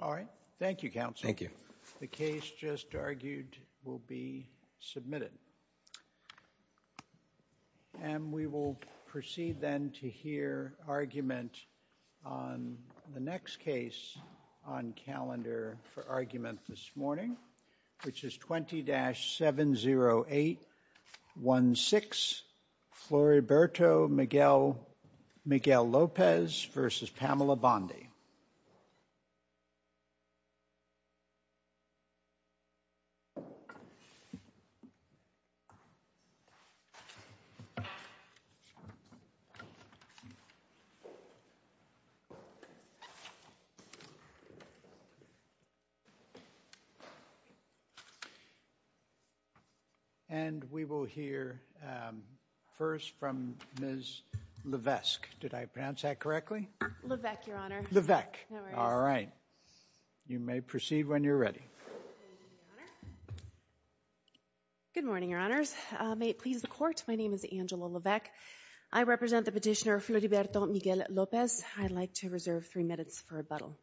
All right. Thank you, Counsel. Thank you. The case just argued will be submitted. And we will proceed then to hear argument on the next case on calendar for argument this morning, which is 20-70816, Floriberto Miguel-Lopez v. Pamela Bondi. And we will hear first from Ms. Levesque. Did I pronounce that correctly? Levesque, Your Honor. Levesque. All right. You may proceed when you're ready. Good morning, Your Honors. May it please the Court, my name is Angela Levesque. I represent the petitioner Floriberto Miguel-Lopez. I'd like to reserve three minutes for rebuttal.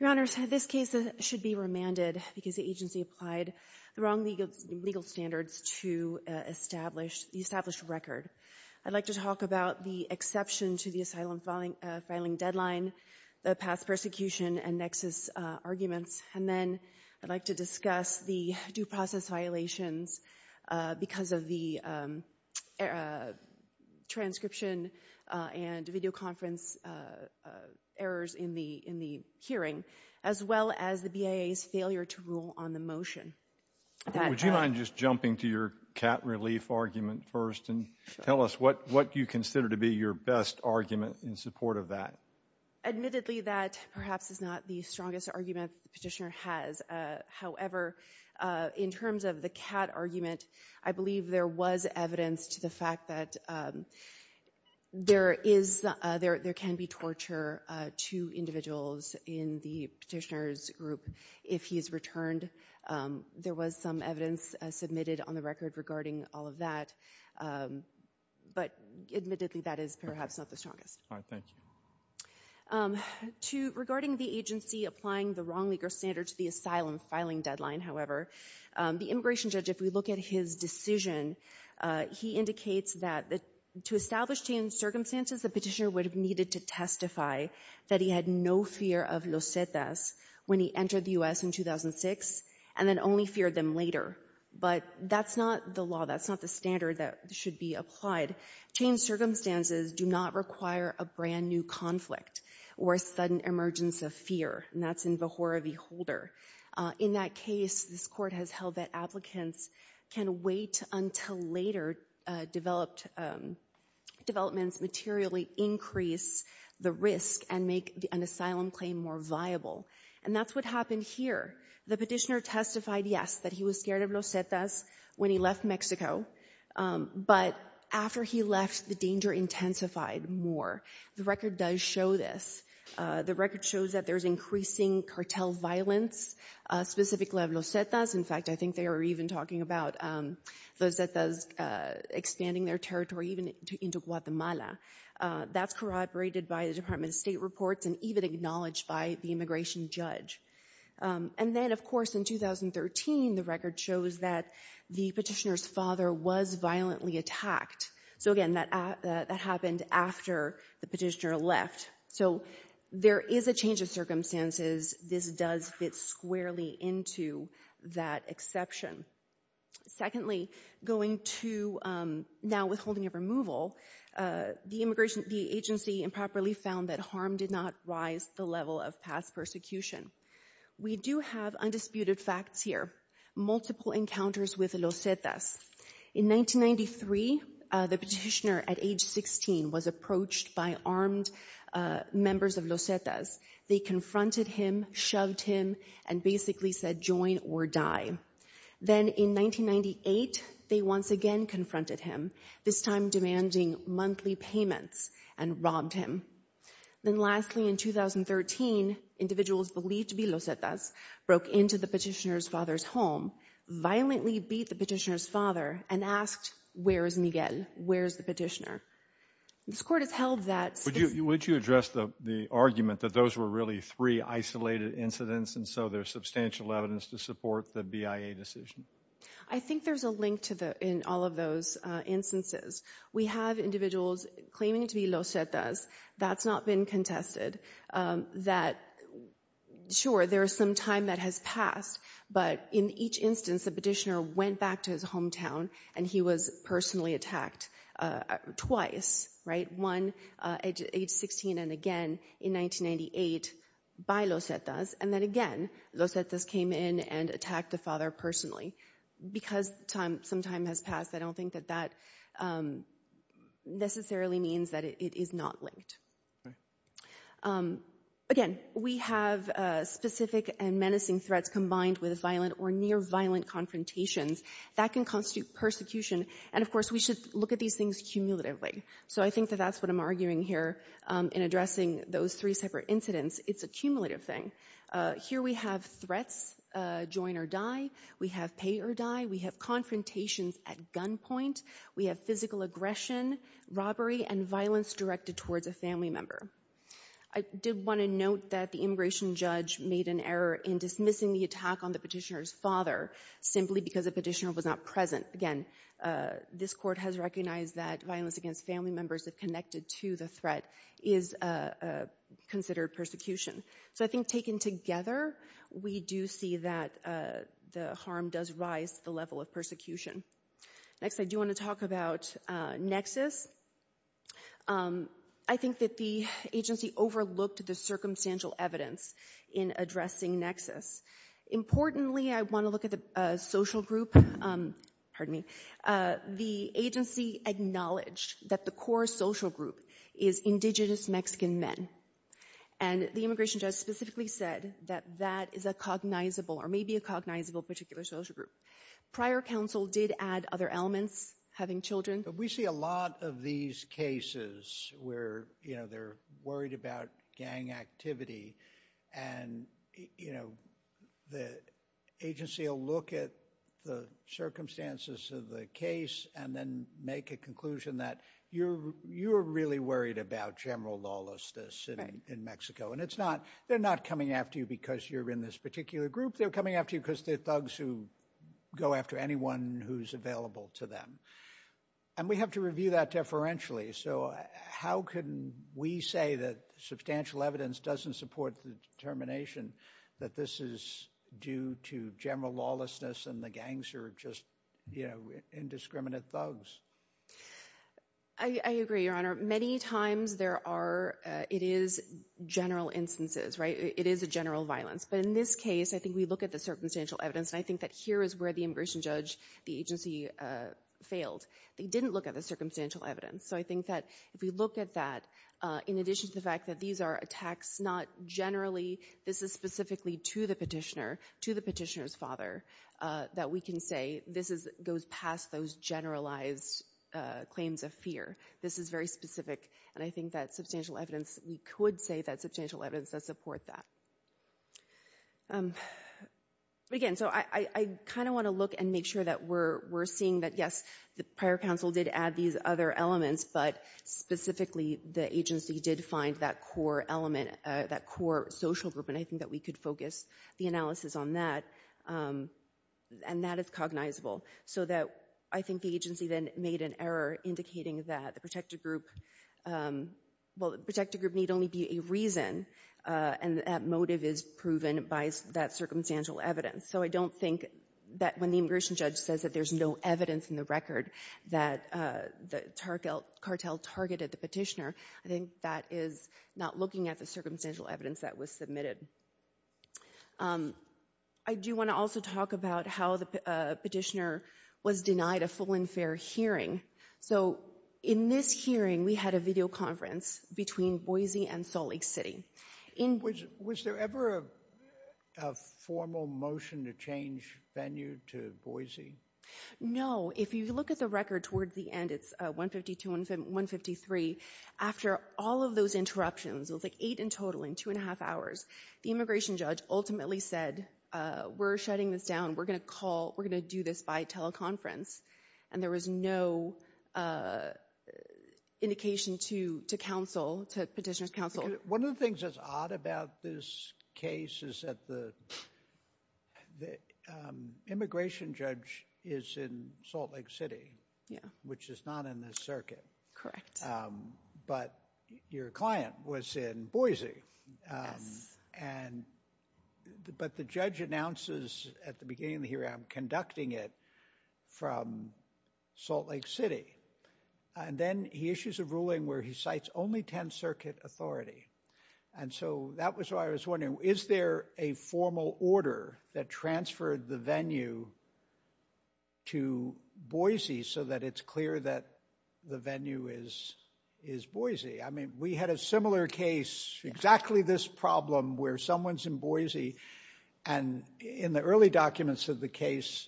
Your Honors, this case should be remanded because the agency applied the wrong legal standards to establish the established record. I'd like to talk about the exception to the asylum filing deadline, the past persecution and nexus arguments, and then I'd like to discuss the due process violations because of the transcription and videoconference errors in the hearing, as well as the BIA's failure to rule on the motion. Would you mind just jumping to your cat relief argument first and tell us what you consider to be your best argument in support of that? Admittedly, that perhaps is not the strongest argument the petitioner has. However, in terms of the cat argument, I believe there was evidence to the fact that there can be torture to individuals in the petitioner's group if he's returned. There was some evidence submitted on the record regarding all of that. But admittedly, that is perhaps not the strongest. All right, thank you. Regarding the agency applying the wrong legal standards to the asylum filing deadline, however, the immigration judge, if we look at his decision, he indicates that to establish changed circumstances, the petitioner would have needed to testify that he had no fear of losetas when he entered the U.S. in 2006 and then only feared them later. But that's not the law. That's not the standard that should be applied. Changed circumstances do not require a brand new conflict or a sudden emergence of fear. And that's in Vihora v. Holder. In that case, this court has held that applicants can wait until later developments materially increase the risk and make an asylum claim more viable. And that's what happened here. The petitioner testified, yes, that he was scared of losetas when he left Mexico. But after he left, the danger intensified more. The record does show this. The record shows that there's increasing cartel violence, specifically of losetas. In fact, I think they were even talking about losetas expanding their territory even into Guatemala. That's corroborated by the Department of State reports and even acknowledged by the immigration judge. And then, of course, in 2013, the record shows that the petitioner's father was violently attacked. So again, that happened after the petitioner left. So there is a change of circumstances. This does fit squarely into that exception. Secondly, going to now withholding of removal, the agency improperly found that harm did not rise the level of past persecution. We do have undisputed facts here. Multiple encounters with losetas. In 1993, the petitioner at age 16 was approached by armed members of losetas. They confronted him, shoved him, and basically said join or die. Then in 1998, they once again confronted him, this time demanding monthly payments and robbed him. Then lastly, in 2013, individuals believed to be losetas broke into the petitioner's father's home, violently beat the petitioner's father, and asked, where is Miguel? Where's the petitioner? This court has held that. Would you address the argument that those were really three isolated incidents and so there's substantial evidence to support the BIA decision? I think there's a link to that in all of those instances. We have individuals claiming to be losetas. That's not been contested. Sure, there's some time that has passed, but in each instance, the petitioner went back to his hometown and he was personally attacked twice. One at age 16 and again in 1998 by losetas. Then again, losetas came in and attacked the father personally. Because some time has passed, I don't think that that necessarily means that it is not linked. Again, we have specific and menacing threats combined with violent or near-violent confrontations that can constitute persecution. And of course, we should look at these things cumulatively. So I think that that's what I'm arguing here in addressing those three separate incidents. It's a cumulative thing. Here we have threats, join or die. We have pay or die. We have confrontations at gunpoint. We have physical aggression, robbery, and violence directed towards a family member. I did want to note that the immigration judge made an error in dismissing the attack on the petitioner's father simply because the petitioner was not present. Again, this court has recognized that violence against family members if connected to the threat is considered persecution. So I think taken together, we do see that the harm does rise to the level of persecution. Next, I do want to talk about nexus. I think that the agency overlooked the circumstantial evidence in addressing nexus. Importantly, I want to look at the social group. Pardon me. The agency acknowledged that the core social group is indigenous Mexican men. And the immigration judge specifically said that that is a cognizable or maybe a cognizable particular social group. Prior counsel did add other elements, having children. We see a lot of these cases where, you know, they're worried about gang activity and, you know, the agency will look at the circumstances of the case and then make a conclusion that you're really worried about general lawlessness in Mexico. And they're not coming after you because you're in this particular group. They're coming after you because they're thugs who go after anyone who's available to them. And we have to review that deferentially. So how can we say that substantial evidence doesn't support the determination that this is due to general lawlessness and the gangs are just, you know, indiscriminate thugs? I agree, Your Honor. Many times there are, it is general instances, right? It is a general violence. But in this case, I think we look at the circumstantial evidence. And I think that here is where the immigration judge, the agency failed. They didn't look at the circumstantial evidence. So I think that if we look at that, in addition to the fact that these are attacks, not generally, this is specifically to the petitioner, to the petitioner's father, that we can say this goes past those generalized claims of fear. This is very specific. And I think that substantial evidence, we could say that substantial evidence does support that. Again, so I kind of want to look and make sure that we're seeing that, yes, the prior counsel did add these other elements. But specifically, the agency did find that core element, that core social group. And I think that we could focus the analysis on that. And that is cognizable. So that I think the agency then made an error indicating that the protected group, well, the protected group need only be a reason. And that motive is proven by that circumstantial evidence. So I don't think that when the immigration judge says that there's no evidence in the record that the cartel targeted the petitioner, I think that is not looking at the circumstantial evidence that was submitted. I do want to also talk about how the petitioner was denied a full and fair hearing. So in this hearing, we had a video conference between Boise and Salt Lake City. Was there ever a formal motion to change venue to Boise? No. If you look at the record towards the end, it's 152 and 153. After all of those interruptions, it was like eight in total in two and a half hours, the immigration judge ultimately said, we're shutting this down. We're going to call, we're going to do this by teleconference. And there was no indication to counsel, to petitioner's counsel. One of the things that's odd about this case is that the immigration judge is in Salt Lake City, which is not in this circuit. Correct. But your client was in Boise. But the judge announces at the beginning of the hearing, I'm conducting it from Salt Lake City. And then he issues a ruling where he cites only 10 circuit authority. And so that was why I was wondering, is there a formal order that transferred the venue to Boise so that it's clear that the venue is Boise? I mean, we had a similar case, exactly this problem where someone's in Boise. And in the early documents of the case,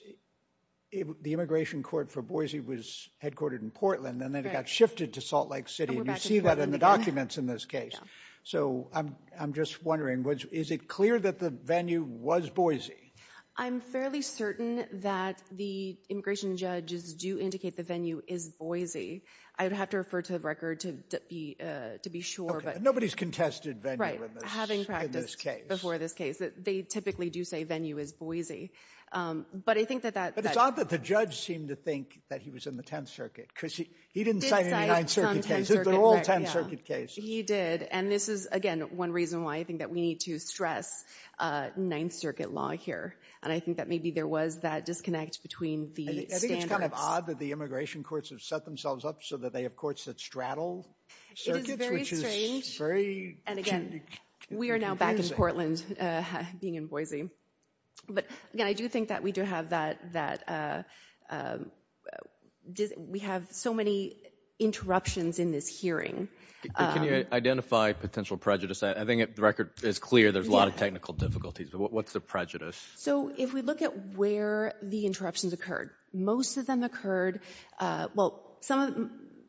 the immigration court for Boise was headquartered in Portland and then it got shifted to Salt Lake City. And you see that in the documents in this case. So I'm just wondering, is it clear that the venue was Boise? I'm fairly certain that the immigration judges do indicate the venue is Boise. I would have to refer to the record to be sure. Nobody's contested venue in this case. They typically do say venue is Boise. But I think that that... But it's odd that the judge seemed to think that he was in the 10th Circuit. Because he didn't cite any 9th Circuit cases. They're all 10th Circuit cases. He did. And this is, again, one reason why I think that we need to stress 9th Circuit law here. And I think that maybe there was that disconnect between the standards. I think it's kind of odd that the immigration courts have set themselves up so that they have courts that straddle circuits, which is very confusing. We are now back in Portland, being in Boise. But again, I do think that we do have that... We have so many interruptions in this hearing. Can you identify potential prejudice? I think the record is clear. There's a lot of technical difficulties. But what's the prejudice? So if we look at where the interruptions occurred, most of them occurred... Well,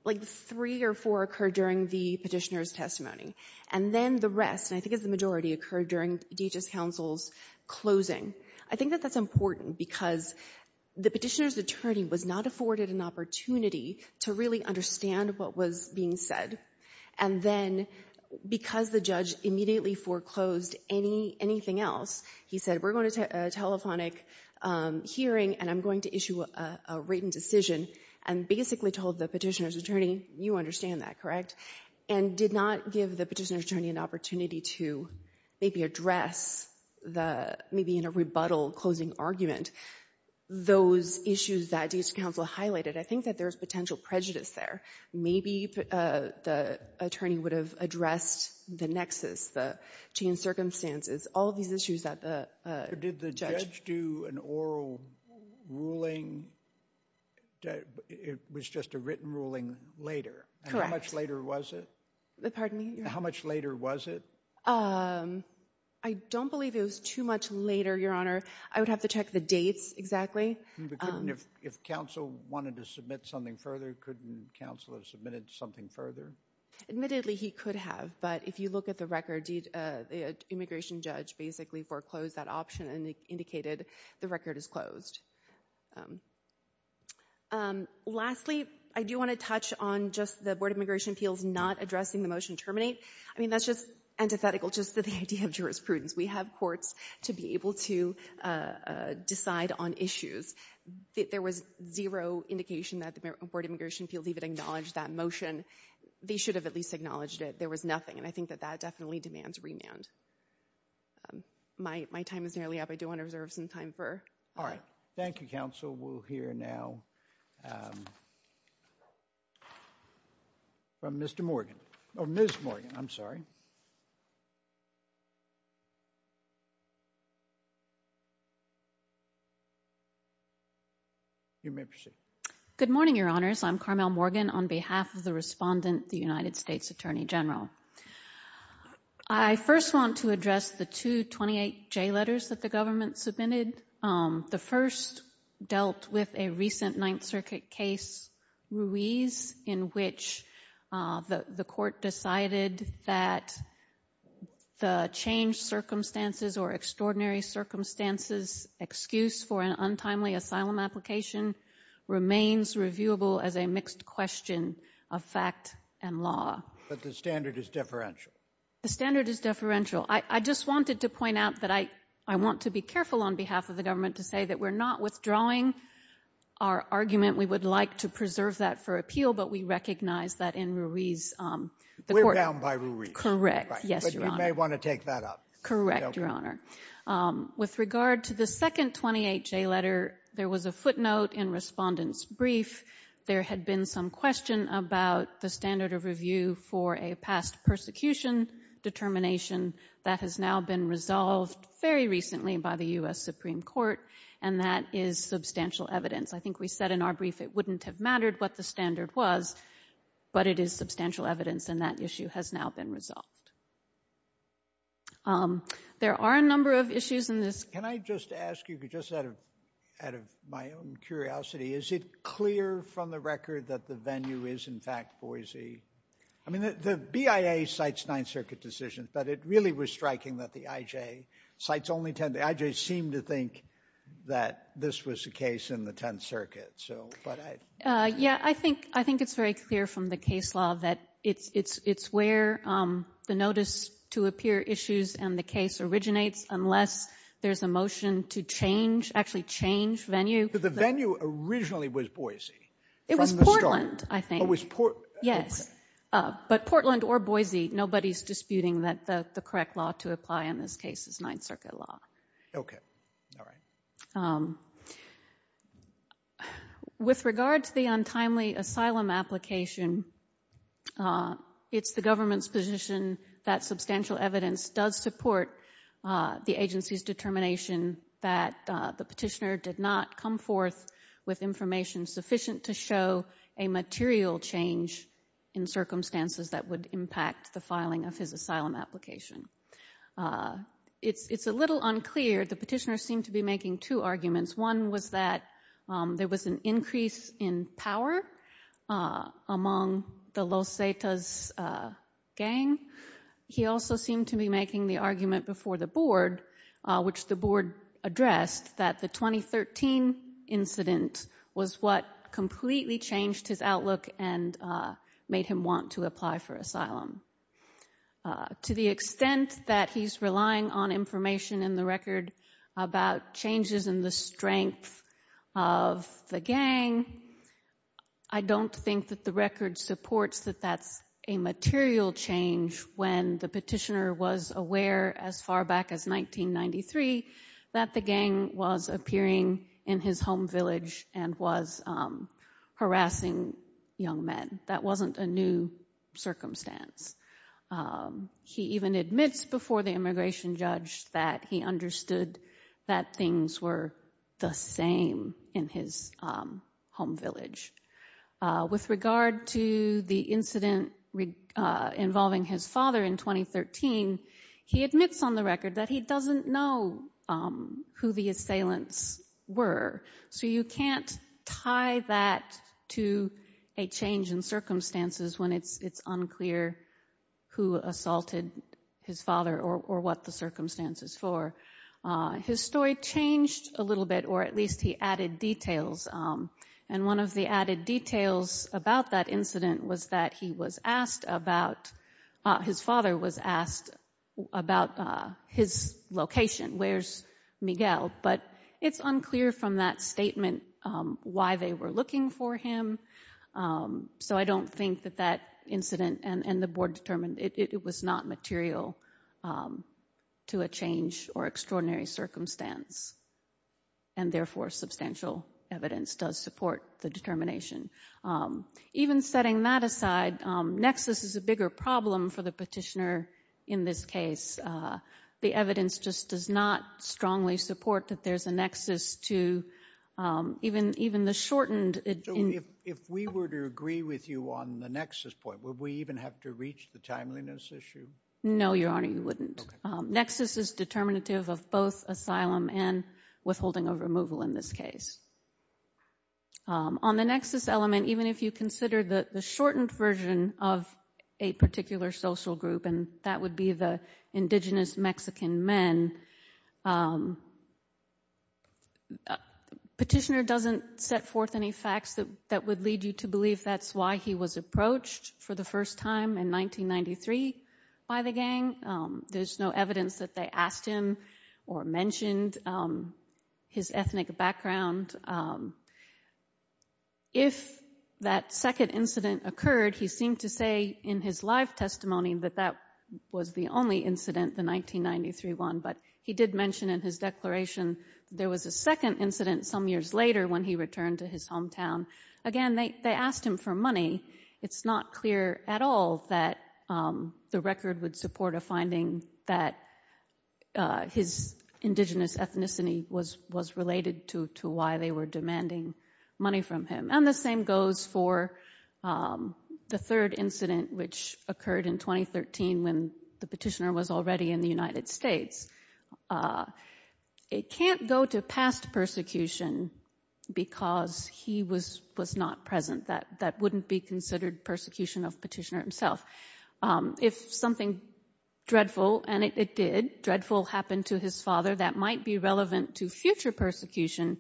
like three or four occurred during the petitioner's testimony. And then the rest, and I think it's the majority, occurred during DHS counsel's closing. I think that that's important because the petitioner's attorney was not afforded an opportunity to really understand what was being said. And then because the judge immediately foreclosed anything else, he said, we're going to a telephonic hearing and I'm going to issue a written decision, and basically told the petitioner's attorney, you understand that, correct? And did not give the petitioner's attorney an opportunity to maybe address the, maybe in a rebuttal closing argument, those issues that DHS counsel highlighted. I think that there's potential prejudice there. Maybe the attorney would have addressed the nexus, the changed circumstances, all of these issues that the judge... It was just a written ruling later. How much later was it? Pardon me? How much later was it? I don't believe it was too much later, Your Honor. I would have to check the dates exactly. If counsel wanted to submit something further, couldn't counsel have submitted something further? Admittedly, he could have. But if you look at the record, the immigration judge basically foreclosed that option and indicated the record is closed. Lastly, I do want to touch on just the Board of Immigration Appeals not addressing the motion terminate. I mean, that's just antithetical just to the idea of jurisprudence. We have courts to be able to decide on issues. There was zero indication that the Board of Immigration Appeals even acknowledged that motion. They should have at least acknowledged it. There was nothing. And I think that that definitely demands remand. My time is nearly up. I do want to reserve some time for... All right. Thank you, counsel. We'll hear now from Mr. Morgan. Oh, Ms. Morgan. I'm sorry. You may proceed. Good morning, Your Honors. I'm Carmel Morgan on behalf of the respondent, the United States Attorney General. I first want to address the two 28J letters that the government submitted. The first dealt with a recent Ninth Circuit case, Ruiz, in which the court decided that the changed circumstances or extraordinary circumstances excuse for an untimely asylum application remains reviewable as a mixed question of fact and law. But the standard is deferential. The standard is deferential. I just wanted to point out that I want to be careful on behalf of the government to say that we're not withdrawing our argument. We would like to preserve that for appeal, but we recognize that in Ruiz, the court... We're bound by Ruiz. Correct. Yes, Your Honor. But you may want to take that up. Correct, Your Honor. With regard to the second 28J letter, there was a footnote in respondent's brief. There had been some question about the standard of review for a past persecution determination that has now been resolved very recently by the U.S. Supreme Court, and that is substantial evidence. I think we said in our brief it wouldn't have mattered what the standard was, but it is substantial evidence, and that issue has now been resolved. There are a number of issues in this... Can I just ask you, just out of my own curiosity, is it clear from the record that the venue is, in fact, Boise? I mean, the BIA cites Ninth Circuit decisions, but it really was striking that the IJ cites only 10. The IJ seemed to think that this was the case in the Tenth Circuit. Yeah, I think it's very clear from the case law that it's where the notice to appear issues and the case originates unless there's a motion to change, actually change venue. The venue originally was Boise. It was Portland, I think. Oh, it was Portland. Yes, but Portland or Boise, nobody's disputing that the correct law to apply in this case is Ninth Circuit law. Okay. All right. With regard to the untimely asylum application, it's the government's position that substantial evidence does support the agency's determination that the petitioner did not come forth with information sufficient to show a material change in circumstances that would impact the filing of his asylum application. It's a little unclear. The petitioner seemed to be making two arguments. One was that there was an increase in power among the Los Zetas gang. He also seemed to be making the argument before the board which the board addressed that the 2013 incident was what completely changed his outlook and made him want to apply for asylum. To the extent that he's relying on information in the record about changes in the strength of the gang, I don't think that the record supports that that's a material change when the petitioner was aware as far back as 1993 that the gang was appearing in his home village and was harassing young men. That wasn't a new circumstance. He even admits before the immigration judge that he understood that things were the same in his home village. With regard to the incident involving his father in 2013, he admits on the record that he doesn't know who the assailants were. So you can't tie that to a change in circumstances when it's unclear who assaulted his father or what the circumstance is for. His story changed a little bit or at least he added details. One of the added details about that incident was that his father was asked about his location. Where's Miguel? But it's unclear from that statement why they were looking for him. So I don't think that that incident and the board determined it was not material to a change or extraordinary circumstance. And therefore, substantial evidence does support the determination. Even setting that aside, nexus is a bigger problem for the petitioner in this case. The evidence just does not strongly support that there's a nexus to even the shortened So if we were to agree with you on the nexus point, would we even have to reach the timeliness issue? No, Your Honor, you wouldn't. Nexus is determinative of both asylum and withholding of removal in this case. On the nexus element, even if you consider the shortened version of a particular social group, and that would be the indigenous Mexican men, petitioner doesn't set forth any facts that would lead you to believe that's why he was approached for the first time in 1993 by the gang. There's no evidence that they asked him or mentioned his ethnic background. And if that second incident occurred, he seemed to say in his live testimony that that was the only incident, the 1993 one. But he did mention in his declaration there was a second incident some years later when he returned to his hometown. Again, they asked him for money. It's not clear at all that the record would support a finding that his indigenous ethnicity was related to why they were demanding money from him. And the same goes for the third incident, which occurred in 2013 when the petitioner was already in the United States. It can't go to past persecution because he was not present. That wouldn't be considered persecution of petitioner himself. If something dreadful, and it did, dreadful happened to his father, that might be relevant to future persecution.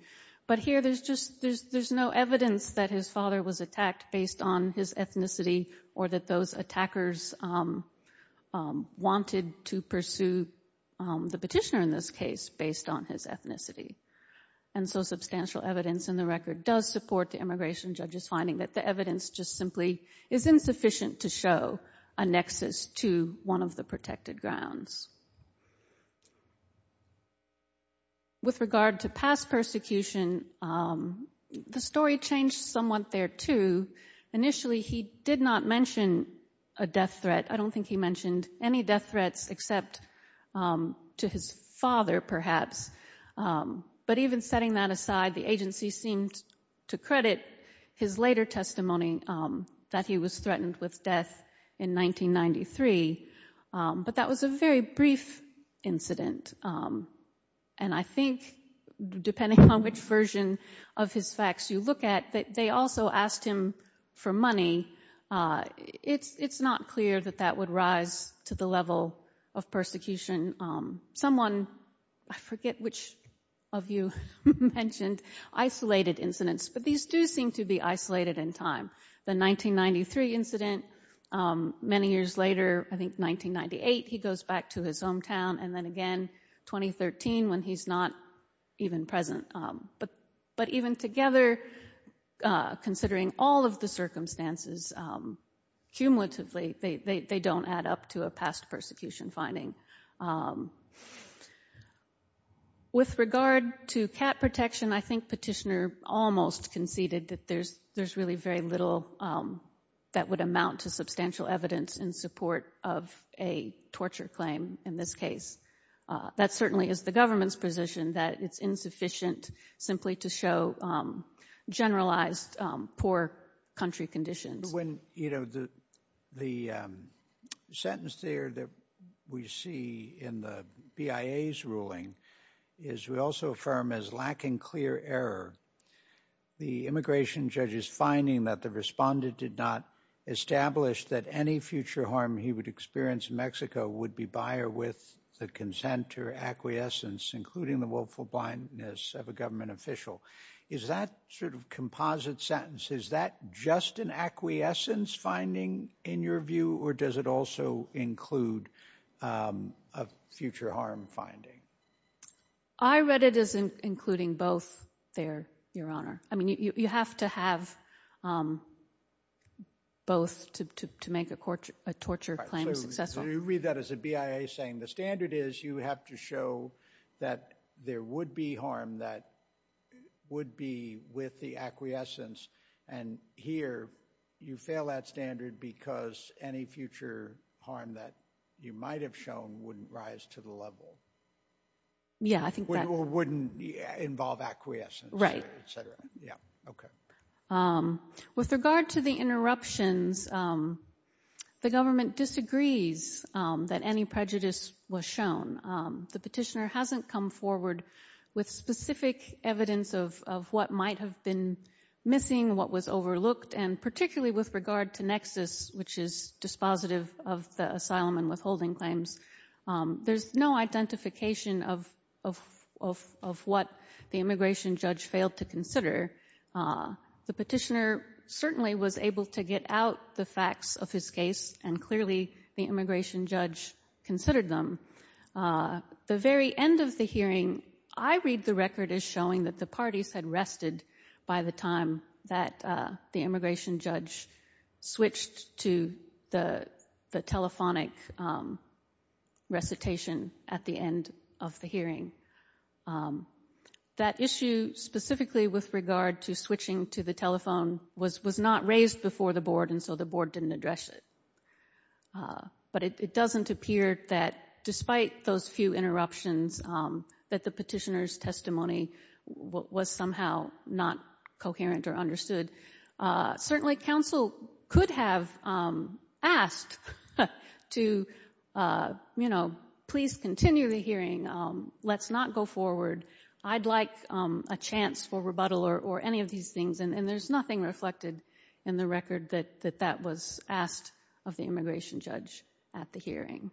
But here there's no evidence that his father was attacked based on his ethnicity or that those attackers wanted to pursue the petitioner in this case based on his ethnicity. And so substantial evidence in the record does support the immigration judge's finding that the evidence just simply is insufficient to show a nexus to one of the protected grounds. With regard to past persecution, the story changed somewhat there, too. Initially, he did not mention a death threat. I don't think he mentioned any death threats except to his father, perhaps. But even setting that aside, the agency seemed to credit his later testimony that he was threatened with death in 1993. But that was a very brief incident. And I think, depending on which version of his facts you look at, that they also asked him for money. It's not clear that that would rise to the level of persecution. Someone, I forget which of you mentioned isolated incidents, but these do seem to be isolated in time. The 1993 incident, many years later, I think 1998, he goes back to his hometown, and then again 2013 when he's not even present. But even together, considering all of the circumstances, cumulatively, they don't add up to a past persecution finding. With regard to cat protection, I think Petitioner almost conceded that there's really very little that would amount to substantial evidence in support of a torture claim in this case. That certainly is the government's position, that it's insufficient simply to show generalized poor country conditions. The sentence there that we see in the BIA's ruling is we also affirm as lacking clear error. The immigration judge is finding that the respondent did not establish that any future harm he would experience in Mexico would be by or with the consent or acquiescence, including the willful blindness of a government official. Is that sort of composite sentence? Is that just an acquiescence finding in your view, or does it also include a future harm finding? I read it as including both there, Your Honor. I mean, you have to have both to make a torture claim successful. So you read that as a BIA saying the standard is you have to show that there would be harm that would be with the acquiescence. And here, you fail that standard because any future harm that you might have shown wouldn't rise to the level. Yeah, I think that... Or wouldn't involve acquiescence, et cetera. With regard to the interruptions, the government disagrees that any prejudice was shown. The petitioner hasn't come forward with specific evidence of what might have been missing, what was overlooked, and particularly with regard to Nexus, which is dispositive of the asylum and withholding claims. There's no identification of what the immigration judge failed to consider. The petitioner certainly was able to get out the facts of his case, and clearly the immigration judge considered them. The very end of the hearing, I read the record as showing that the parties had rested by the time that the immigration judge switched to the telephonic recitation at the end of the hearing. That issue specifically with regard to switching to the telephone was not raised before the board, and so the board didn't address it. But it doesn't appear that despite those few interruptions that the petitioner's testimony was somehow not coherent or understood. Certainly, counsel could have asked to please continue the hearing, let's not go forward, I'd like a chance for rebuttal or any of these things, and there's nothing reflected in the immigration judge at the hearing.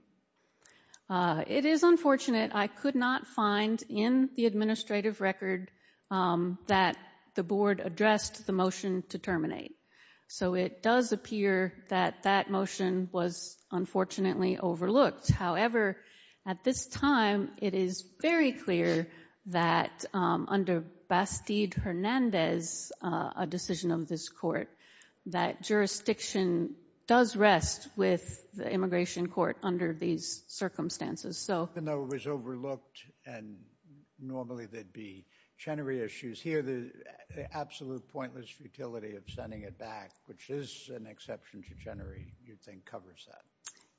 It is unfortunate, I could not find in the administrative record that the board addressed the motion to terminate. So it does appear that that motion was unfortunately overlooked. However, at this time, it is very clear that under Bastid-Hernandez, a decision of this that jurisdiction does rest with the immigration court under these circumstances. Even though it was overlooked, and normally there'd be Chenery issues, here the absolute pointless futility of sending it back, which is an exception to Chenery, you think covers that.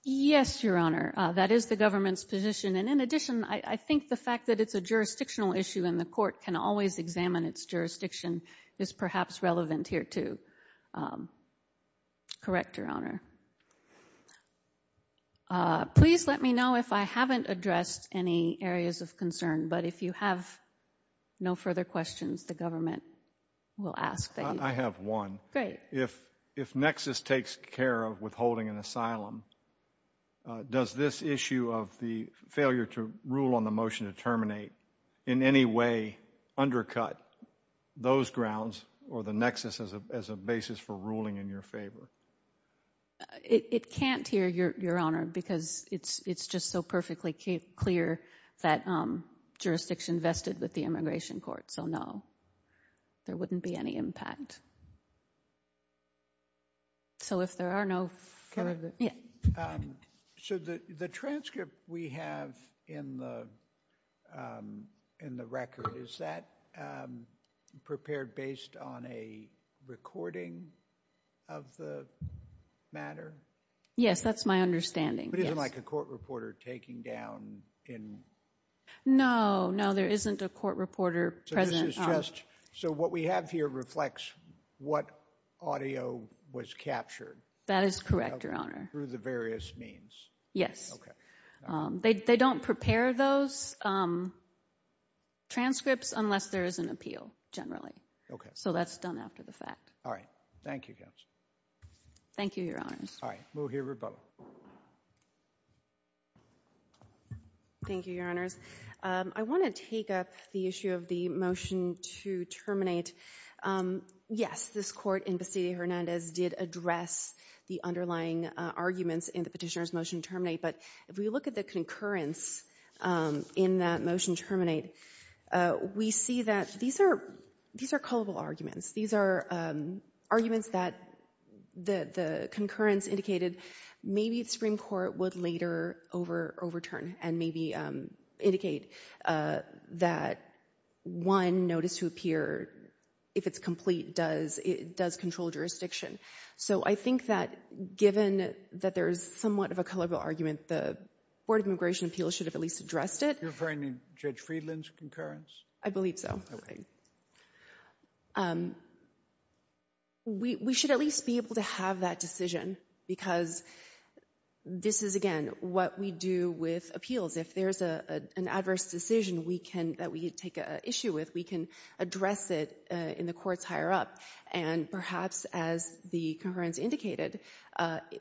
Yes, Your Honor, that is the government's position. And in addition, I think the fact that it's a jurisdictional issue and the court can always examine its jurisdiction is perhaps relevant here too. Correct, Your Honor. Please let me know if I haven't addressed any areas of concern, but if you have no further questions, the government will ask. I have one. Great. If Nexus takes care of withholding an asylum, does this issue of the failure to rule on a motion to terminate in any way undercut those grounds or the Nexus as a basis for ruling in your favor? It can't here, Your Honor, because it's just so perfectly clear that jurisdiction vested with the immigration court. So no, there wouldn't be any impact. So if there are no further... So the transcript we have in the record, is that prepared based on a recording of the matter? Yes, that's my understanding. But it isn't like a court reporter taking down in... No, no, there isn't a court reporter present. So this is just... So what we have here reflects what audio was captured. That is correct, Your Honor. Through the various means? They don't prepare those transcripts unless there is an appeal, generally. Okay. So that's done after the fact. All right. Thank you, Counsel. Thank you, Your Honors. All right. We'll hear from both. Thank you, Your Honors. I want to take up the issue of the motion to terminate. And yes, this court in Bastida-Hernandez did address the underlying arguments in the petitioner's motion to terminate. But if we look at the concurrence in that motion to terminate, we see that these are culpable arguments. These are arguments that the concurrence indicated maybe the Supreme Court would later overturn and maybe indicate that one notice to appear, if it's complete, does control jurisdiction. So I think that given that there is somewhat of a culpable argument, the Board of Immigration Appeals should have at least addressed it. You're referring to Judge Friedland's concurrence? I believe so. We should at least be able to have that decision because this is, again, what we do with appeals. If there's an adverse decision that we take an issue with, we can address it in the courts higher up. And perhaps, as the concurrence indicated,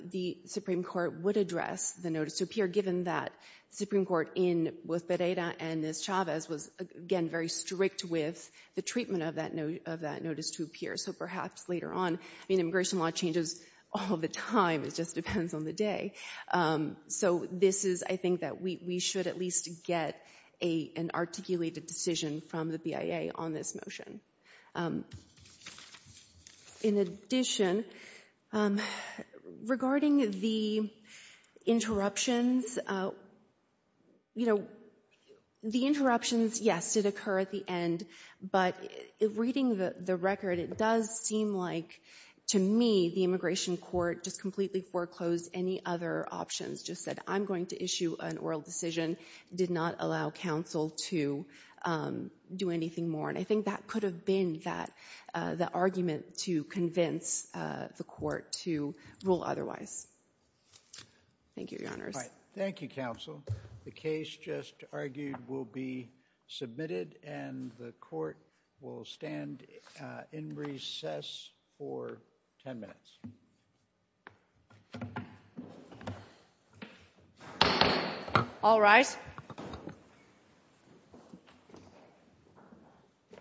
the Supreme Court would address the notice to appear, given that the Supreme Court in both Pereira and Chavez was, again, very strict with the treatment of that notice to appear. So perhaps later on. I mean, immigration law changes all the time. It just depends on the day. So this is, I think, that we should at least get an articulated decision from the BIA on this motion. In addition, regarding the interruptions, you know, the interruptions, yes, did occur at the end. But reading the record, it does seem like, to me, the immigration court just completely foreclosed any other options. Just said, I'm going to issue an oral decision. Did not allow counsel to do anything more. And I think that could have been the argument to convince the court to rule otherwise. Thank you, Your Honors. All right. Thank you, counsel. The case just argued will be submitted. And the court will stand in recess for 10 minutes. All right.